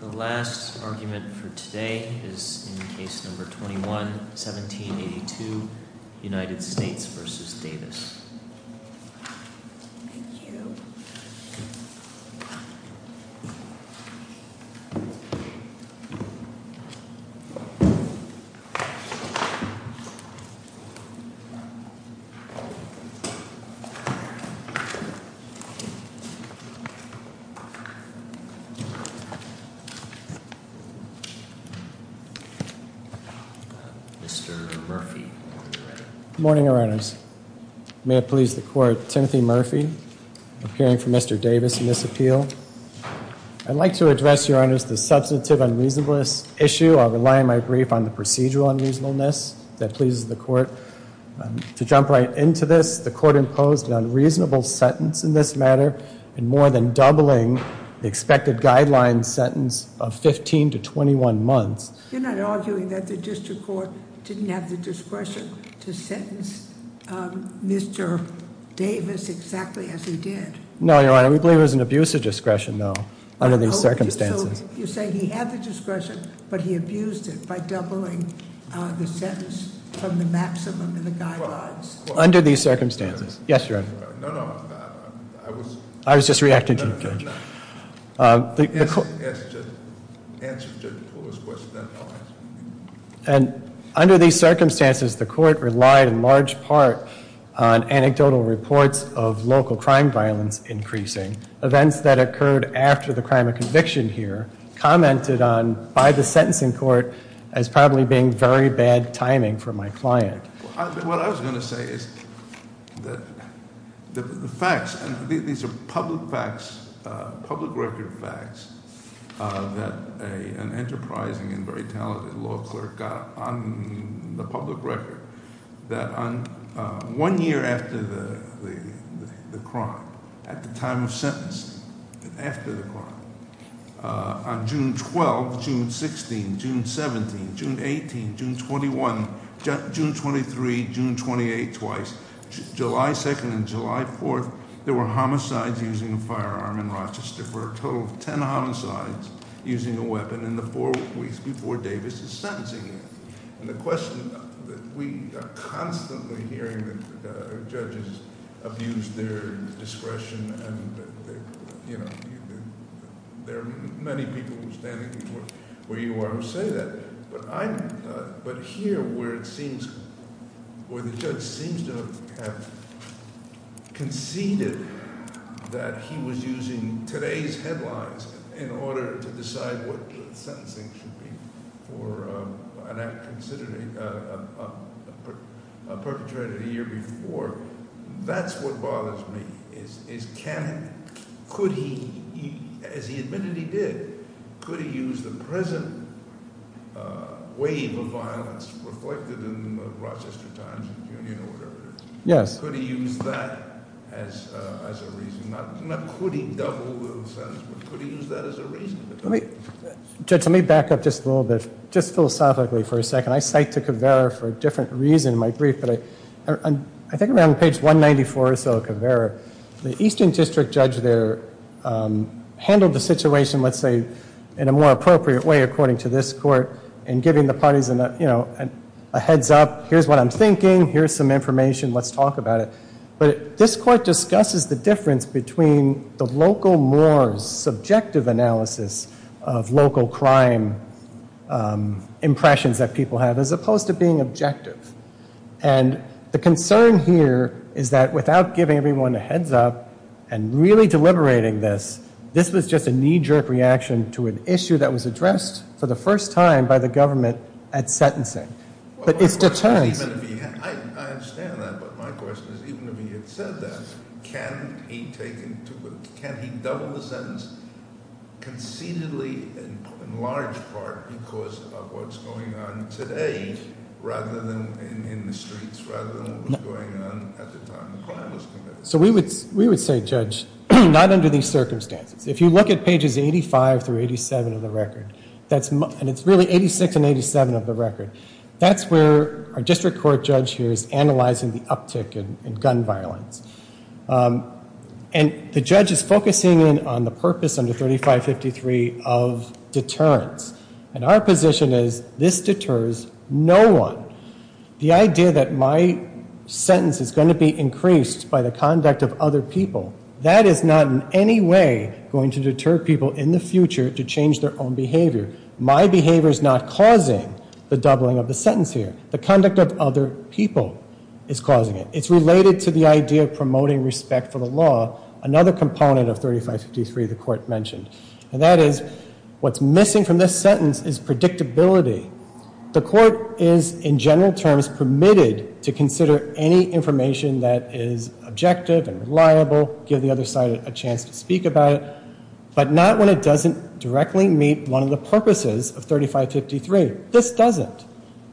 The last argument for today is in Case No. 21-1782, United States v. Davis. Good morning, Your Honors. May it please the Court, Timothy Murphy, appearing for Mr. Davis in this appeal. I'd like to address, Your Honors, the substantive unreasonable issue of relying my brief on the procedural unreasonableness that pleases the Court. To jump right into this, the Court imposed an unreasonable sentence in this matter in more than doubling the expected guideline sentence of 15 to 21 months. You're not arguing that the District Court didn't have the discretion to sentence Mr. Davis exactly as he did? No, Your Honor, we believe it was an abuse of discretion, though, under these circumstances. So you're saying he had the discretion, but he abused it by doubling the sentence from the maximum in the guidelines? Under these circumstances. Yes, Your Honor. No, no. I was just reacting to you, Judge. Answer Judge McCullough's question, then I'll answer yours. And under these circumstances, the Court relied in large part on anecdotal reports of local crime violence increasing. Events that occurred after the crime of conviction here commented on by the sentencing court as probably being very bad timing for my client. What I was going to say is the facts, these are public facts, public record facts that an enterprising and very talented law clerk got on the public record that one year after the crime, at the time of sentencing, after the crime, on June 12, June 16, June 17, June 18, June 21, June 23, June 28, twice, July 2nd and July 4th, there were homicides using a firearm in Rochester. There were a total of ten homicides using a weapon in the four weeks before Davis is sentencing him. We are constantly hearing that judges abuse their discretion and, you know, that they are many people standing where you are who say that. But I, but here where it seems, where the judge seems to have conceded that he was using today's headlines in order to decide what sentencing should be for an act considered, a perpetrator a year before, that's what bothers me, is can he, could he, as he admitted he did, could he use the present wave of violence reflected in the Rochester Times or whatever, could he use that as a reason, not could he double the sentence, but could he use that as a reason. Judge, let me back up just a little bit, just philosophically for a second. I say took a Covera for a different reason in my brief, but I think around page 194 or so of Covera, the Eastern District Judge there handled the situation, let's say, in a more appropriate way according to this court in giving the parties a heads up, here's what I'm thinking, here's some information, let's talk about it. But this court discusses the difference between the local, more subjective analysis of local crime impressions that people have as opposed to being objective. And the concern here is that without giving everyone a heads up and really deliberating this, this was just a knee-jerk reaction to an issue that was addressed for the first time by the government at sentencing. But it's deterrence. I understand that, but my question is even if he had said that, can he take, can he double the sentence concededly in large part because of what's going on today rather than in the streets, rather than what was going on at the time the crime was committed? So we would say, Judge, not under these circumstances. If you look at pages 85 through 87 of the record, and it's really 86 and 87 of the record, that's where our district court judge here is analyzing the uptick in gun violence. And the judge is focusing in on the purpose under 3553 of deterrence. And our position is this deters no one. The idea that my sentence is going to be increased by the conduct of other people, that is not in any way going to deter people in the future to change their own behavior. My behavior is not causing the doubling of the sentence here. The conduct of other people is causing it. It's related to the idea of promoting respect for the law, another component of 3553 the court mentioned. And that is what's missing from this sentence is predictability. The court is in general terms permitted to consider any information that is objective and reliable, give the other side a chance to speak about it, but not when it doesn't directly meet one of the purposes of 3553. This doesn't.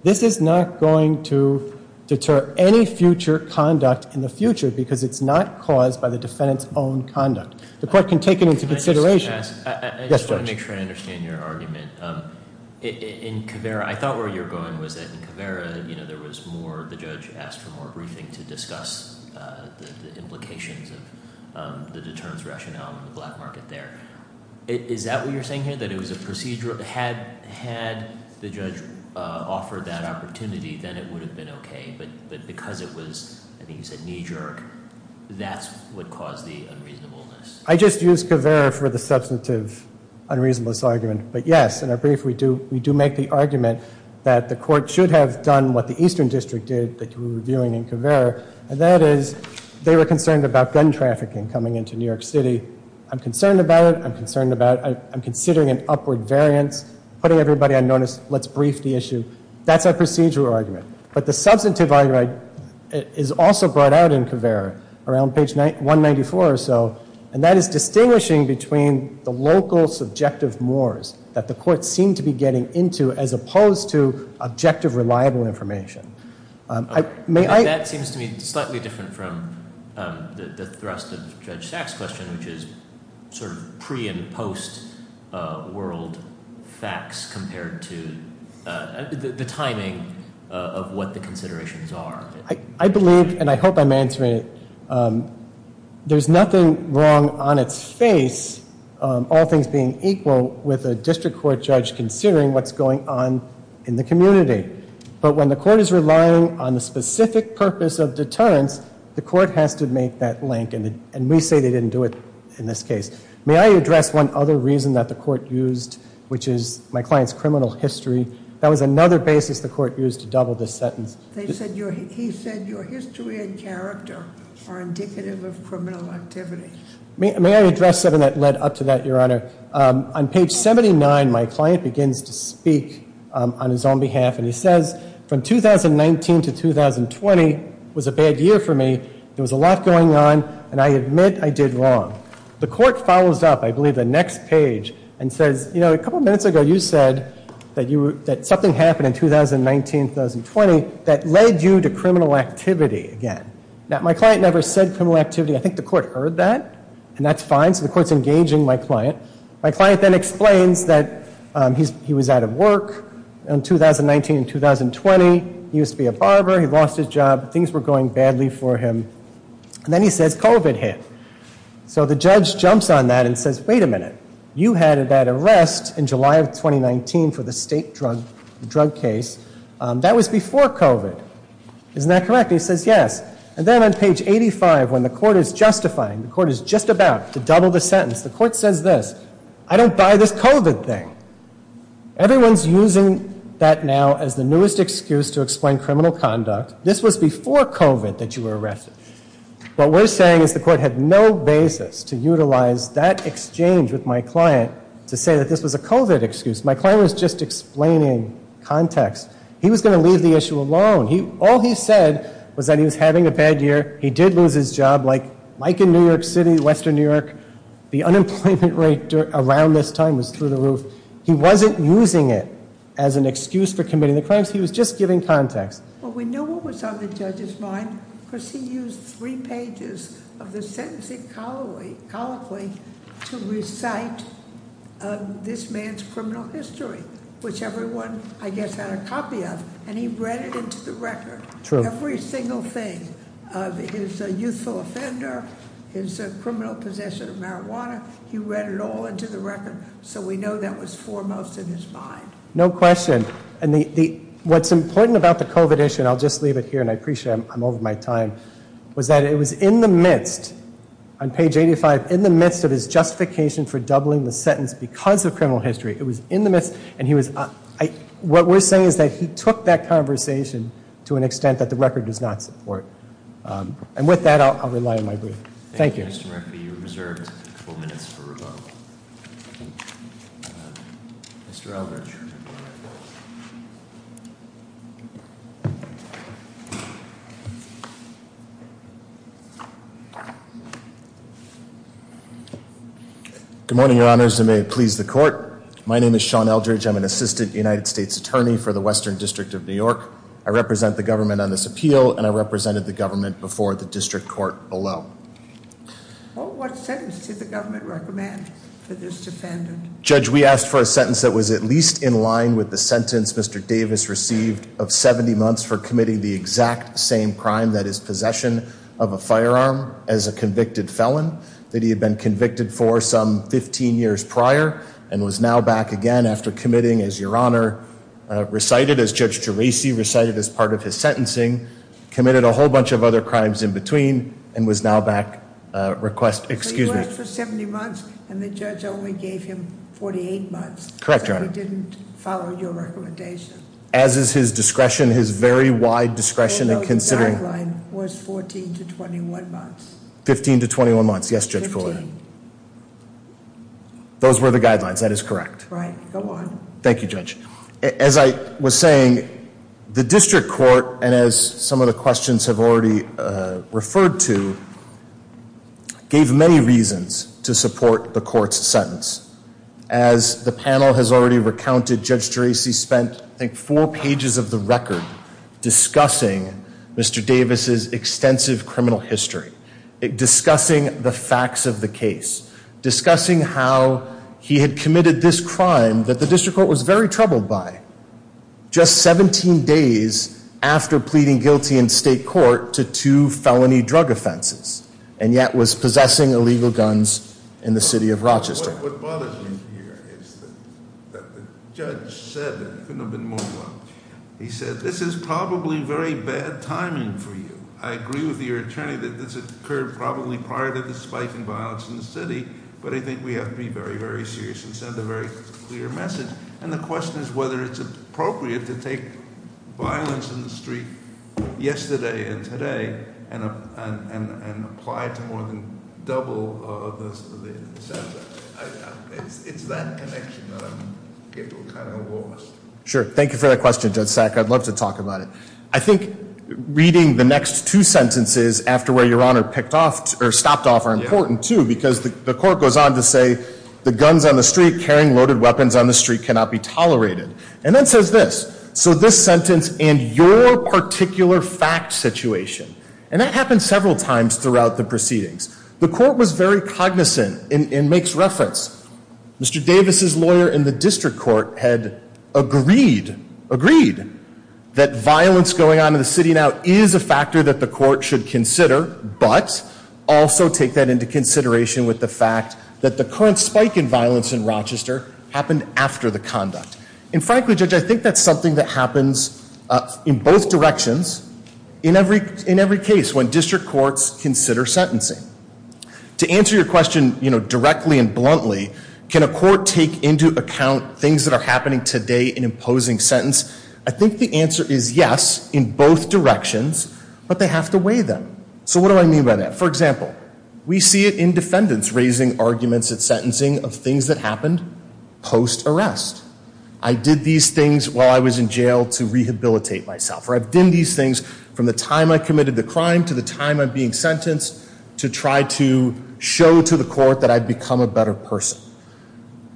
This is not going to deter any future conduct in the future because it's not caused by the defendant's own conduct. The court can take it into consideration. I just want to make sure I understand your argument. In Caveira, I thought where you were going was that in Caveira there was more, the judge asked for more briefing to discuss the implications of the deterrence rationale in the black market there. Is that what you're saying here? That it was a procedural, had the judge offered that opportunity, then it would have been okay. But because it was, I think you said knee-jerk, that's what caused the unreasonableness. I just used Caveira for the substantive unreasonableness argument. But yes, in our brief we do make the argument that the court should have done what the Eastern District did that you were reviewing in Caveira, and that is they were concerned about gun trafficking coming into New York City. I'm concerned about it. I'm considering an upward variance, putting everybody on notice, let's brief the issue. That's our procedural argument. But the substantive argument is also brought out in Caveira around page 194 or so, and that is distinguishing between the local subjective mores that the court seemed to be getting into as opposed to the thrust of Judge Sachs' question, which is sort of pre- and post-world facts compared to the timing of what the considerations are. I believe, and I hope I'm answering it, there's nothing wrong on its face, all things being equal, with a district court judge considering what's going on in the community. But when the court is relying on the specific purpose of deterrence, the court has to make that link, and we say they didn't do it in this case. May I address one other reason that the court used, which is my client's criminal history. That was another basis the court used to double this sentence. He said your history and character are indicative of criminal activity. May I address something that led up to that, Your Honor? On page 79, my client begins to speak on his own behalf, and he says, from 2019 to 2020 was a bad year for me. There was a lot going on, and I admit I did wrong. The court follows up, I believe the next page, and says, you know, a couple of minutes ago, you said that something happened in 2019-2020 that led you to criminal activity again. Now, my client never said criminal activity. I think the court heard that, and that's fine, so the court's engaging my client. My client then explains that he was out of work in 2019-2020, he used to be a barber, he lost his job, things were going badly for him, and then he says COVID hit. So the judge jumps on that and says, wait a minute, you had that arrest in July of 2019 for the state drug case. That was before COVID. Isn't that correct? He says yes. And then on page 85, when the court is justifying, the court is just about to double the sentence, the court says this, I don't buy this COVID thing. Everyone's using that now as the newest excuse to explain criminal conduct. This was before COVID that you were arrested. What we're saying is the court had no basis to utilize that exchange with my client to say that this was a COVID excuse. My client was just explaining context. He was going to leave the issue alone. All he said was that he was having a bad year, he did lose his job, like in New York City, western New York, the unemployment rate around this time was through the roof. He wasn't using it as an excuse for committing the crimes, he was just giving context. Well, we know what was on the judge's mind because he used three pages of the sentencing colloquy to recite this man's criminal history, which everyone I guess had a copy of, and he read it into the record. Every single thing of his youthful offender, his criminal possession of marijuana, he read it all into the record so we know that was foremost in his mind. No question. And what's important about the COVID issue, and I'll just leave it here and I appreciate it, I'm over my time, was that it was in the midst, on page 85, in the midst of his justification for doubling the sentence because of criminal history. It was in the midst and he was what we're saying is that he took that conversation to an extent that the record does not support. And with that, I'll rely on my brief. Thank you. Mr. Eldridge. Good morning, your honors, and may it please the court. My name is Sean Eldridge, I'm an assistant United States attorney for the Department of Justice, and I'm here on behalf of the government before the district court below. Judge, we asked for a sentence that was at least in line with the sentence Mr. Davis received of 70 months for committing the exact same crime, that is possession of a firearm, as a convicted felon that he had been convicted for some 15 years prior and was now back again after committing, as your honor recited, as Judge Geraci recited as part of his sentencing, committed a whole bunch of other crimes in between, and was now back, request, excuse me. So he worked for 70 months and the judge only gave him 48 months. Correct, your honor. So he didn't follow your recommendation. As is his discretion, his very wide discretion in considering. Although the guideline was 14 to 21 months. 15 to 21 months. Yes, Judge Fuller. Those were the guidelines, that is correct. Thank you, Judge. As I was saying, the district court, and as some of the questions have already referred to, gave many reasons to support the court's sentence. As the panel has already recounted, Judge Geraci spent, I think, four pages of the record discussing Mr. Davis' extensive criminal history. Discussing the facts of the case. Discussing how he had committed this crime that the district court was very troubled by. Just 17 days after pleading guilty in state court to two felony drug offenses, and yet was possessing illegal guns in the city of Rochester. What bothers me here is that the judge said that, couldn't have been more wrong. He said, this is probably very bad timing for you. I agree with your attorney that this occurred probably prior to the spike in violence in the city, but I think we have to be very, very serious and send a very clear message. And the question is whether it's appropriate to take violence in the street yesterday and today, and apply it to more than double the center. It's that connection that I'm getting kind of lost. Sure. Thank you for that question, Judge Sack. I'd love to talk about it. I think reading the next two sentences after where your Honor picked off, or stopped off, are important too, because the court goes on to say, the guns on the street carrying loaded weapons on the street cannot be tolerated. And then says this. So this sentence, and your And that happened several times throughout the proceedings. The court was very cognizant and makes reference. Mr. Davis' lawyer in the district court had agreed, agreed, that violence going on in the city now is a factor that the court should consider, but also take that into consideration with the fact that the current spike in violence in Rochester happened after the conduct. And frankly, Judge, I think that's something that happens in both directions, in every case when district courts consider sentencing. To answer your question directly and bluntly, can a court take into account things that are happening today in imposing sentence? I think the answer is yes, in both directions, but they have to weigh them. So what do I mean by that? For example, we that happened post-arrest. I did these things while I was in jail to rehabilitate myself. Or I've done these things from the time I committed the crime to the time I'm being sentenced to try to show to the court that I've become a better person.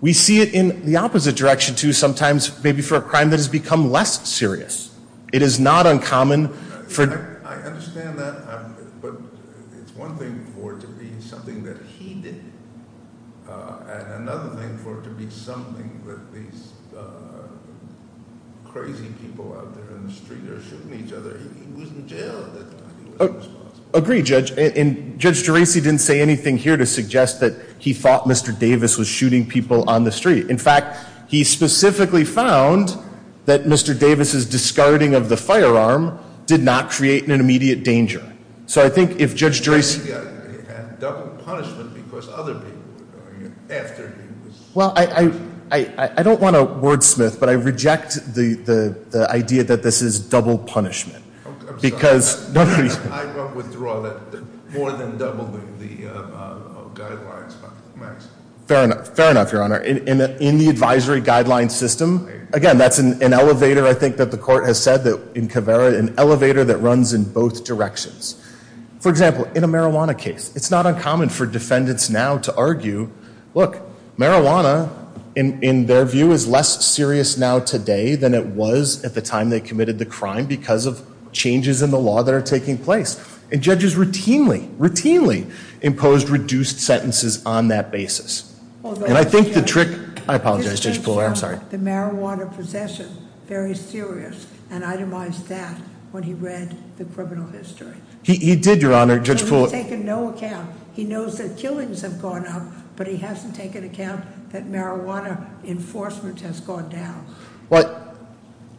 We see it in the opposite direction too, sometimes maybe for a crime that has become less serious. It is not uncommon for- I understand that, but it's one thing for it to be something that he did, and another thing for it to be something that these crazy people out there in the street are shooting each other. He was in jail. I agree, Judge. Judge Geraci didn't say anything here to suggest that he thought Mr. Davis was shooting people on the street. In fact, he specifically found that Mr. Davis' discarding of the firearm did not create an immediate danger. So I think if Judge Geraci- He had double punishment because other people were going after him. Well, I don't want to wordsmith, but I reject the idea that this is double punishment. I'm sorry. I won't withdraw that more than doubling the guidelines. Fair enough. Fair enough, Your Honor. In the advisory guideline system, again, that's an elevator, I think, that the guideline system is a little bit different. For example, in a marijuana case, it's not uncommon for defendants now to argue, look, marijuana, in their view, is less serious now today than it was at the time they committed the crime because of changes in the law that are taking place. And judges routinely, routinely imposed reduced sentences on that basis. And I think the trick- I apologize, Judge Puller, I'm sorry. He took the marijuana possession very serious and itemized that when he read the criminal history. He did, Your Honor, Judge Puller- He's taken no account. He knows that killings have gone up, but he hasn't taken account that marijuana enforcement has gone down.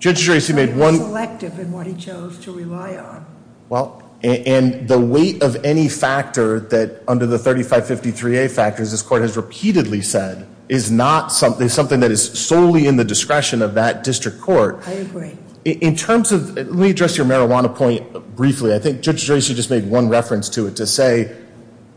Judge Geraci made one- He was selective in what he chose to rely on. Well, and the weight of any factor that, under the 3553A factors, this court has repeatedly said is not something- something that is solely in the discretion of that district court. I agree. In terms of- let me address your marijuana point briefly. I think Judge Geraci just made one reference to it to say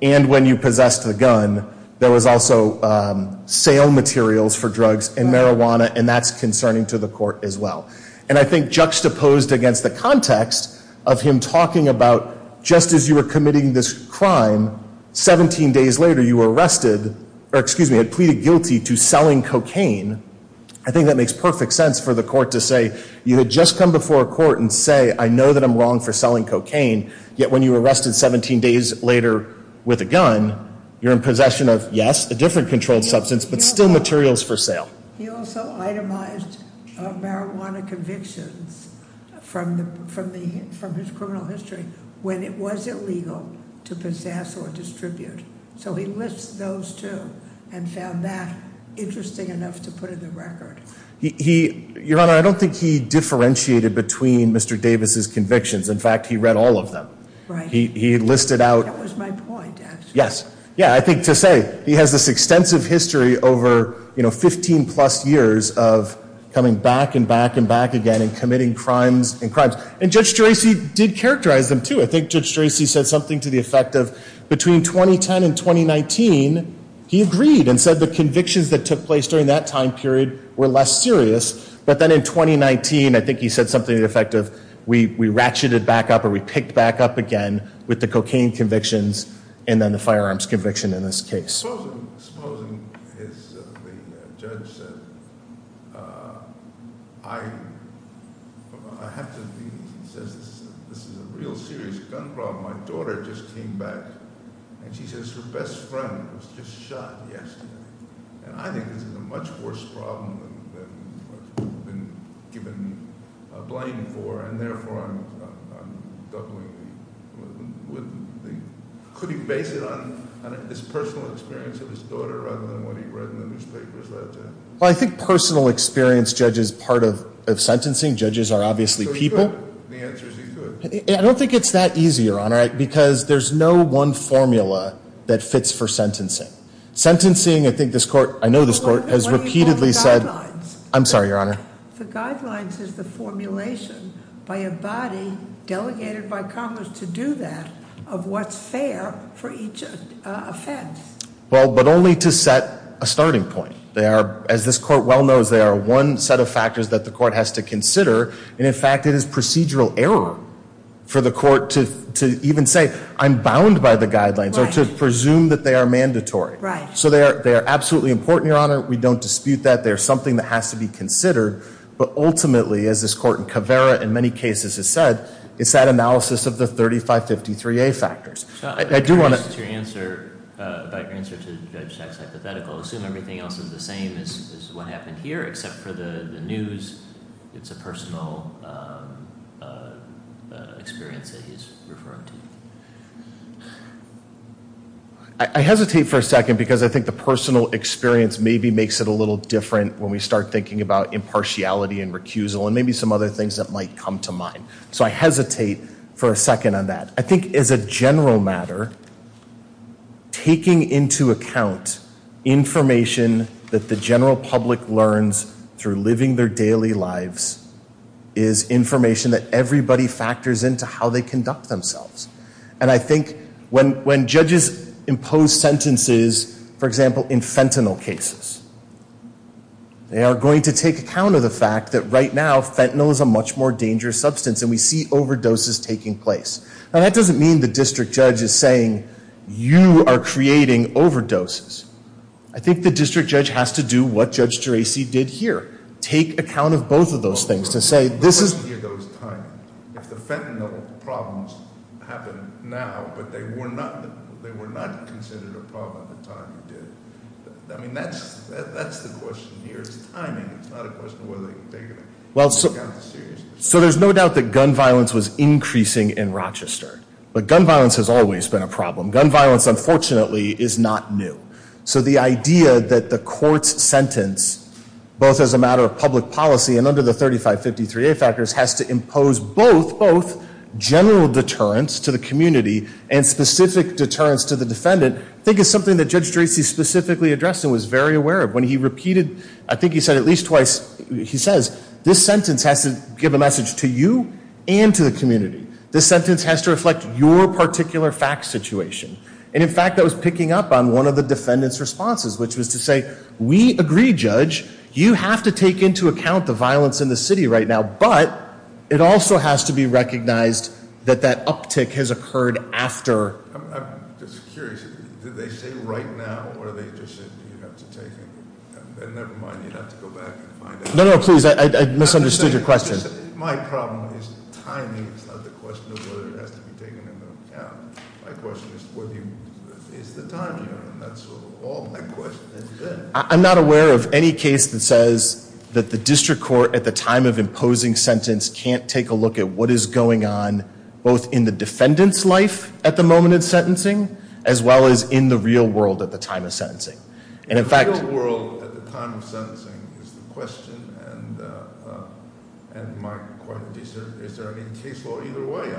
and when you possessed the gun, there was also sale materials for drugs and marijuana and that's concerning to the court as well. And I think juxtaposed against the context of him talking about just as you were committing this crime, 17 days later you were arrested- or excuse me had pleaded guilty to selling cocaine. I think that makes perfect sense for the court to say you had just come before a court and say, I know that I'm wrong for selling cocaine, yet when you were arrested 17 days later with a gun, you're in possession of, yes, a different controlled substance, but still materials for sale. He also itemized marijuana convictions from his criminal history when it was illegal to possess or distribute. So he lists those two and found that interesting enough to put in the record. Your Honor, I don't think he Yes. Yeah, I think to say he has this extensive history over 15 plus years of coming back and back and back again and committing crimes and crimes. And Judge Geraci did characterize them too. I think Judge Geraci said something to the effect of between 2010 and 2019, he agreed and said the convictions that took place during that time period were less serious. But then in 2019, I think he said something to the effect of we ratcheted back up or we picked back up again with the cocaine convictions and then the firearms conviction in this case. Supposing as the judge said I have to be- he says this is a real serious gun problem. My daughter just came back and she says her best friend was just shot yesterday. And I think this is a much worse problem than what's been given blame for and therefore I'm doubling the- Could he base it on his personal experience of his daughter rather than what he read in the newspapers? Well, I think personal experience, Judge, is part of sentencing. Judges are obviously people. I don't think it's that easy, Your Honor, because there's no one formula that fits for sentencing. Sentencing, I think this court- I know this court has repeatedly said- I'm sorry, Your Honor. The guidelines is the formulation by a body delegated by Congress to do that of what's fair for each offense. Well, but only to set a starting point. They are, as this court well knows, they are one set of factors that the court has to consider. And in fact, it is procedural error for the court to even say I'm bound by the guidelines or to presume that they are mandatory. So they are absolutely important, Your Honor. We don't dispute that. They are something that has to be considered. But ultimately, as this court in Caveira in many cases has said, it's that analysis of the 3553A factors. I do want to- Your answer, about your answer to Judge Schatz hypothetical, assume everything else is the same as what happened here, except for the news, it's a personal experience that he's referring to. I hesitate for a second because I think the personal experience maybe makes it a little different when we start thinking about impartiality and recusal and maybe some other things that might come to mind. So I hesitate for a second on that. I think as a general matter, taking into account information that the general public learns through living their daily lives is information that everybody factors into how they conduct themselves. And I think when judges impose sentences, for example, in fentanyl cases, they are going to take account of the fact that right now fentanyl is a much more dangerous substance and we see overdoses taking place. Now that doesn't mean the district judge is saying you are creating overdoses. I think the district judge has to do what Judge Geraci did here. Take account of both of those things to say this is- So there's no doubt that gun violence was increasing in Rochester. But gun violence has always been a problem. Gun violence, unfortunately, is not new. So the idea that the court's sentence, both as a matter of public policy and under the 3553A factors, has to impose both general deterrence to the community and specific deterrence to the defendant I think is something that Judge Geraci specifically addressed and was very aware of. When he repeated, I think he said at least twice he says this sentence has to give a message to you and to the community. This sentence has to reflect your particular fact situation. And in fact, that was picking up on one of the defendant's responses, which was to say we agree, Judge. You have to take into account the violence in the city right now, but it also has to be recognized that that uptick has occurred after- I'm just curious. Did they say right now, or did they just say you have to take it? Never mind. You'd have to go back and find out. No, no, please. I misunderstood your question. My problem is timing. It's not the question of whether it has to be taken into account. My question is, is the timing on? That's all my question. That's good. I'm not aware of any case that says that the district court at the time of imposing sentence can't take a look at what is going on both in the defendant's life at the moment of sentencing as well as in the real world at the time of sentencing. In the real world at the time of sentencing is the question and my question is, is there any case law either way?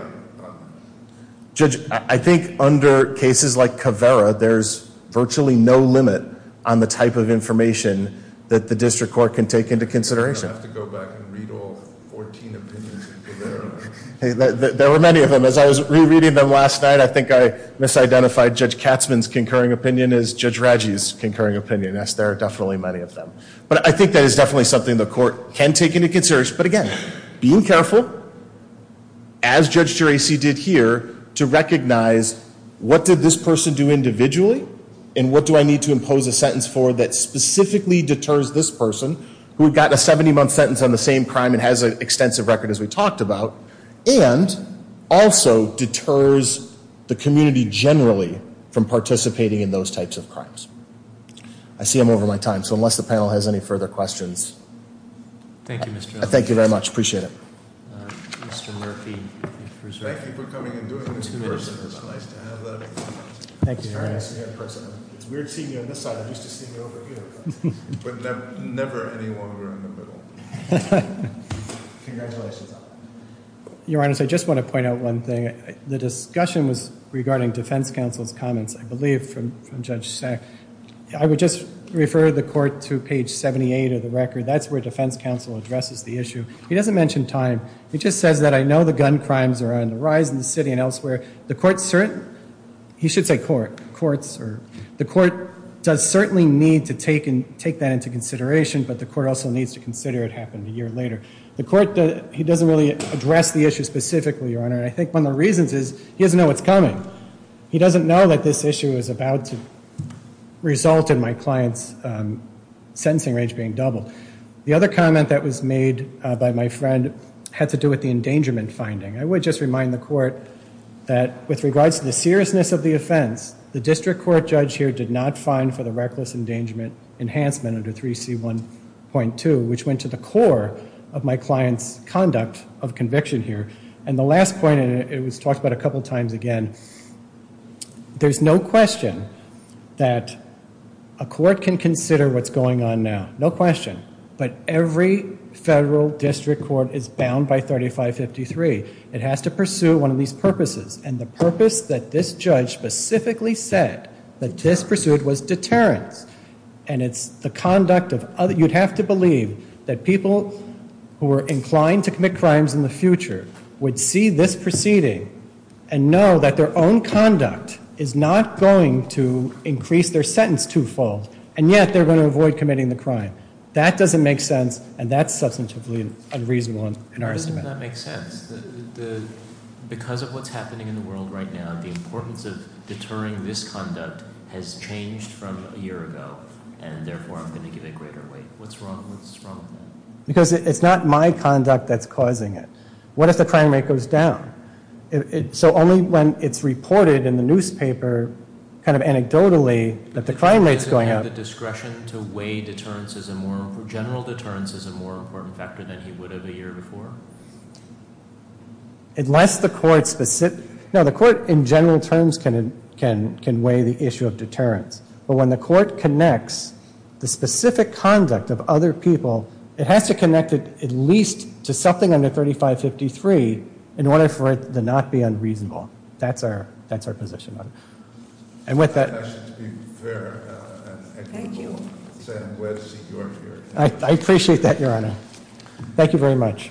Judge, I think under cases like Caveira, there's virtually no limit on the type of information that the district court can take into consideration. You're going to have to go back and read all 14 opinions in Caveira. There were many of them. As I was rereading them last night, I think I misidentified Judge Katzman's concurring opinion as Judge Raggi's concurring opinion. Yes, there are definitely many of them. But I think that is definitely something the court can take into consideration. But again, being careful as Judge Geraci did here to recognize what did this person do individually and what do I need to impose a sentence for that specifically deters this person who had gotten a 70 month sentence on the same crime and has an extensive record as we talked about and also deters the community generally from participating in those types of crimes. I see I'm over my time so unless the panel has any further questions. Thank you very much. Appreciate it. Thank you for coming and doing this. It's nice to have you. It's weird seeing you on this side. I'm used to seeing you over here. But never any longer in the middle. Your Honor, I just want to point out one thing. The discussion was regarding defense counsel's comments, I believe from Judge Sack. I would just refer the court to page 78 of the record. That's where defense counsel addresses the issue. He doesn't mention time. He just says that I know the gun crimes are on the rise in the city and elsewhere. The court does certainly need to take that into consideration but the court also needs to consider it happened a year later. The court doesn't really address the issue specifically, Your Honor. I think one of the reasons is he doesn't know what's coming. He doesn't know that this issue is about to result in my client's sentencing range being doubled. The other comment that was made by my friend had to do with the endangerment finding. I would just remind the court that with regards to the seriousness of the offense, the district court judge here did not find for the reckless endangerment enhancement under 3C1.2, which went to the core of my client's conduct of conviction here. And the last point, and it was talked about a couple times again, there's no question that a court can consider what's going on now. No question. But every federal district court is bound by 3553. It has to pursue one of these purposes. And the purpose that this judge specifically said that this pursued was deterrence. And it's the conduct of, you'd have to believe that people who are inclined to commit crimes in the future would see this proceeding and know that their own conduct is not going to increase their sentence twofold. And yet they're going to avoid committing the crime. That doesn't make sense. And that's substantively unreasonable in our system. Because it's not my conduct that's causing it. What if the crime rate goes down? So only when it's reported in the newspaper, kind of anecdotally, that the crime rate's going up. Unless the court, in general terms, can weigh the issue of deterrence. But when the court connects the specific conduct of other people, it has to connect it at least to something under 3553 in order for it to not be unreasonable. That's our position on it. I appreciate that, Your Honor. Thank you very much. Court is adjourned.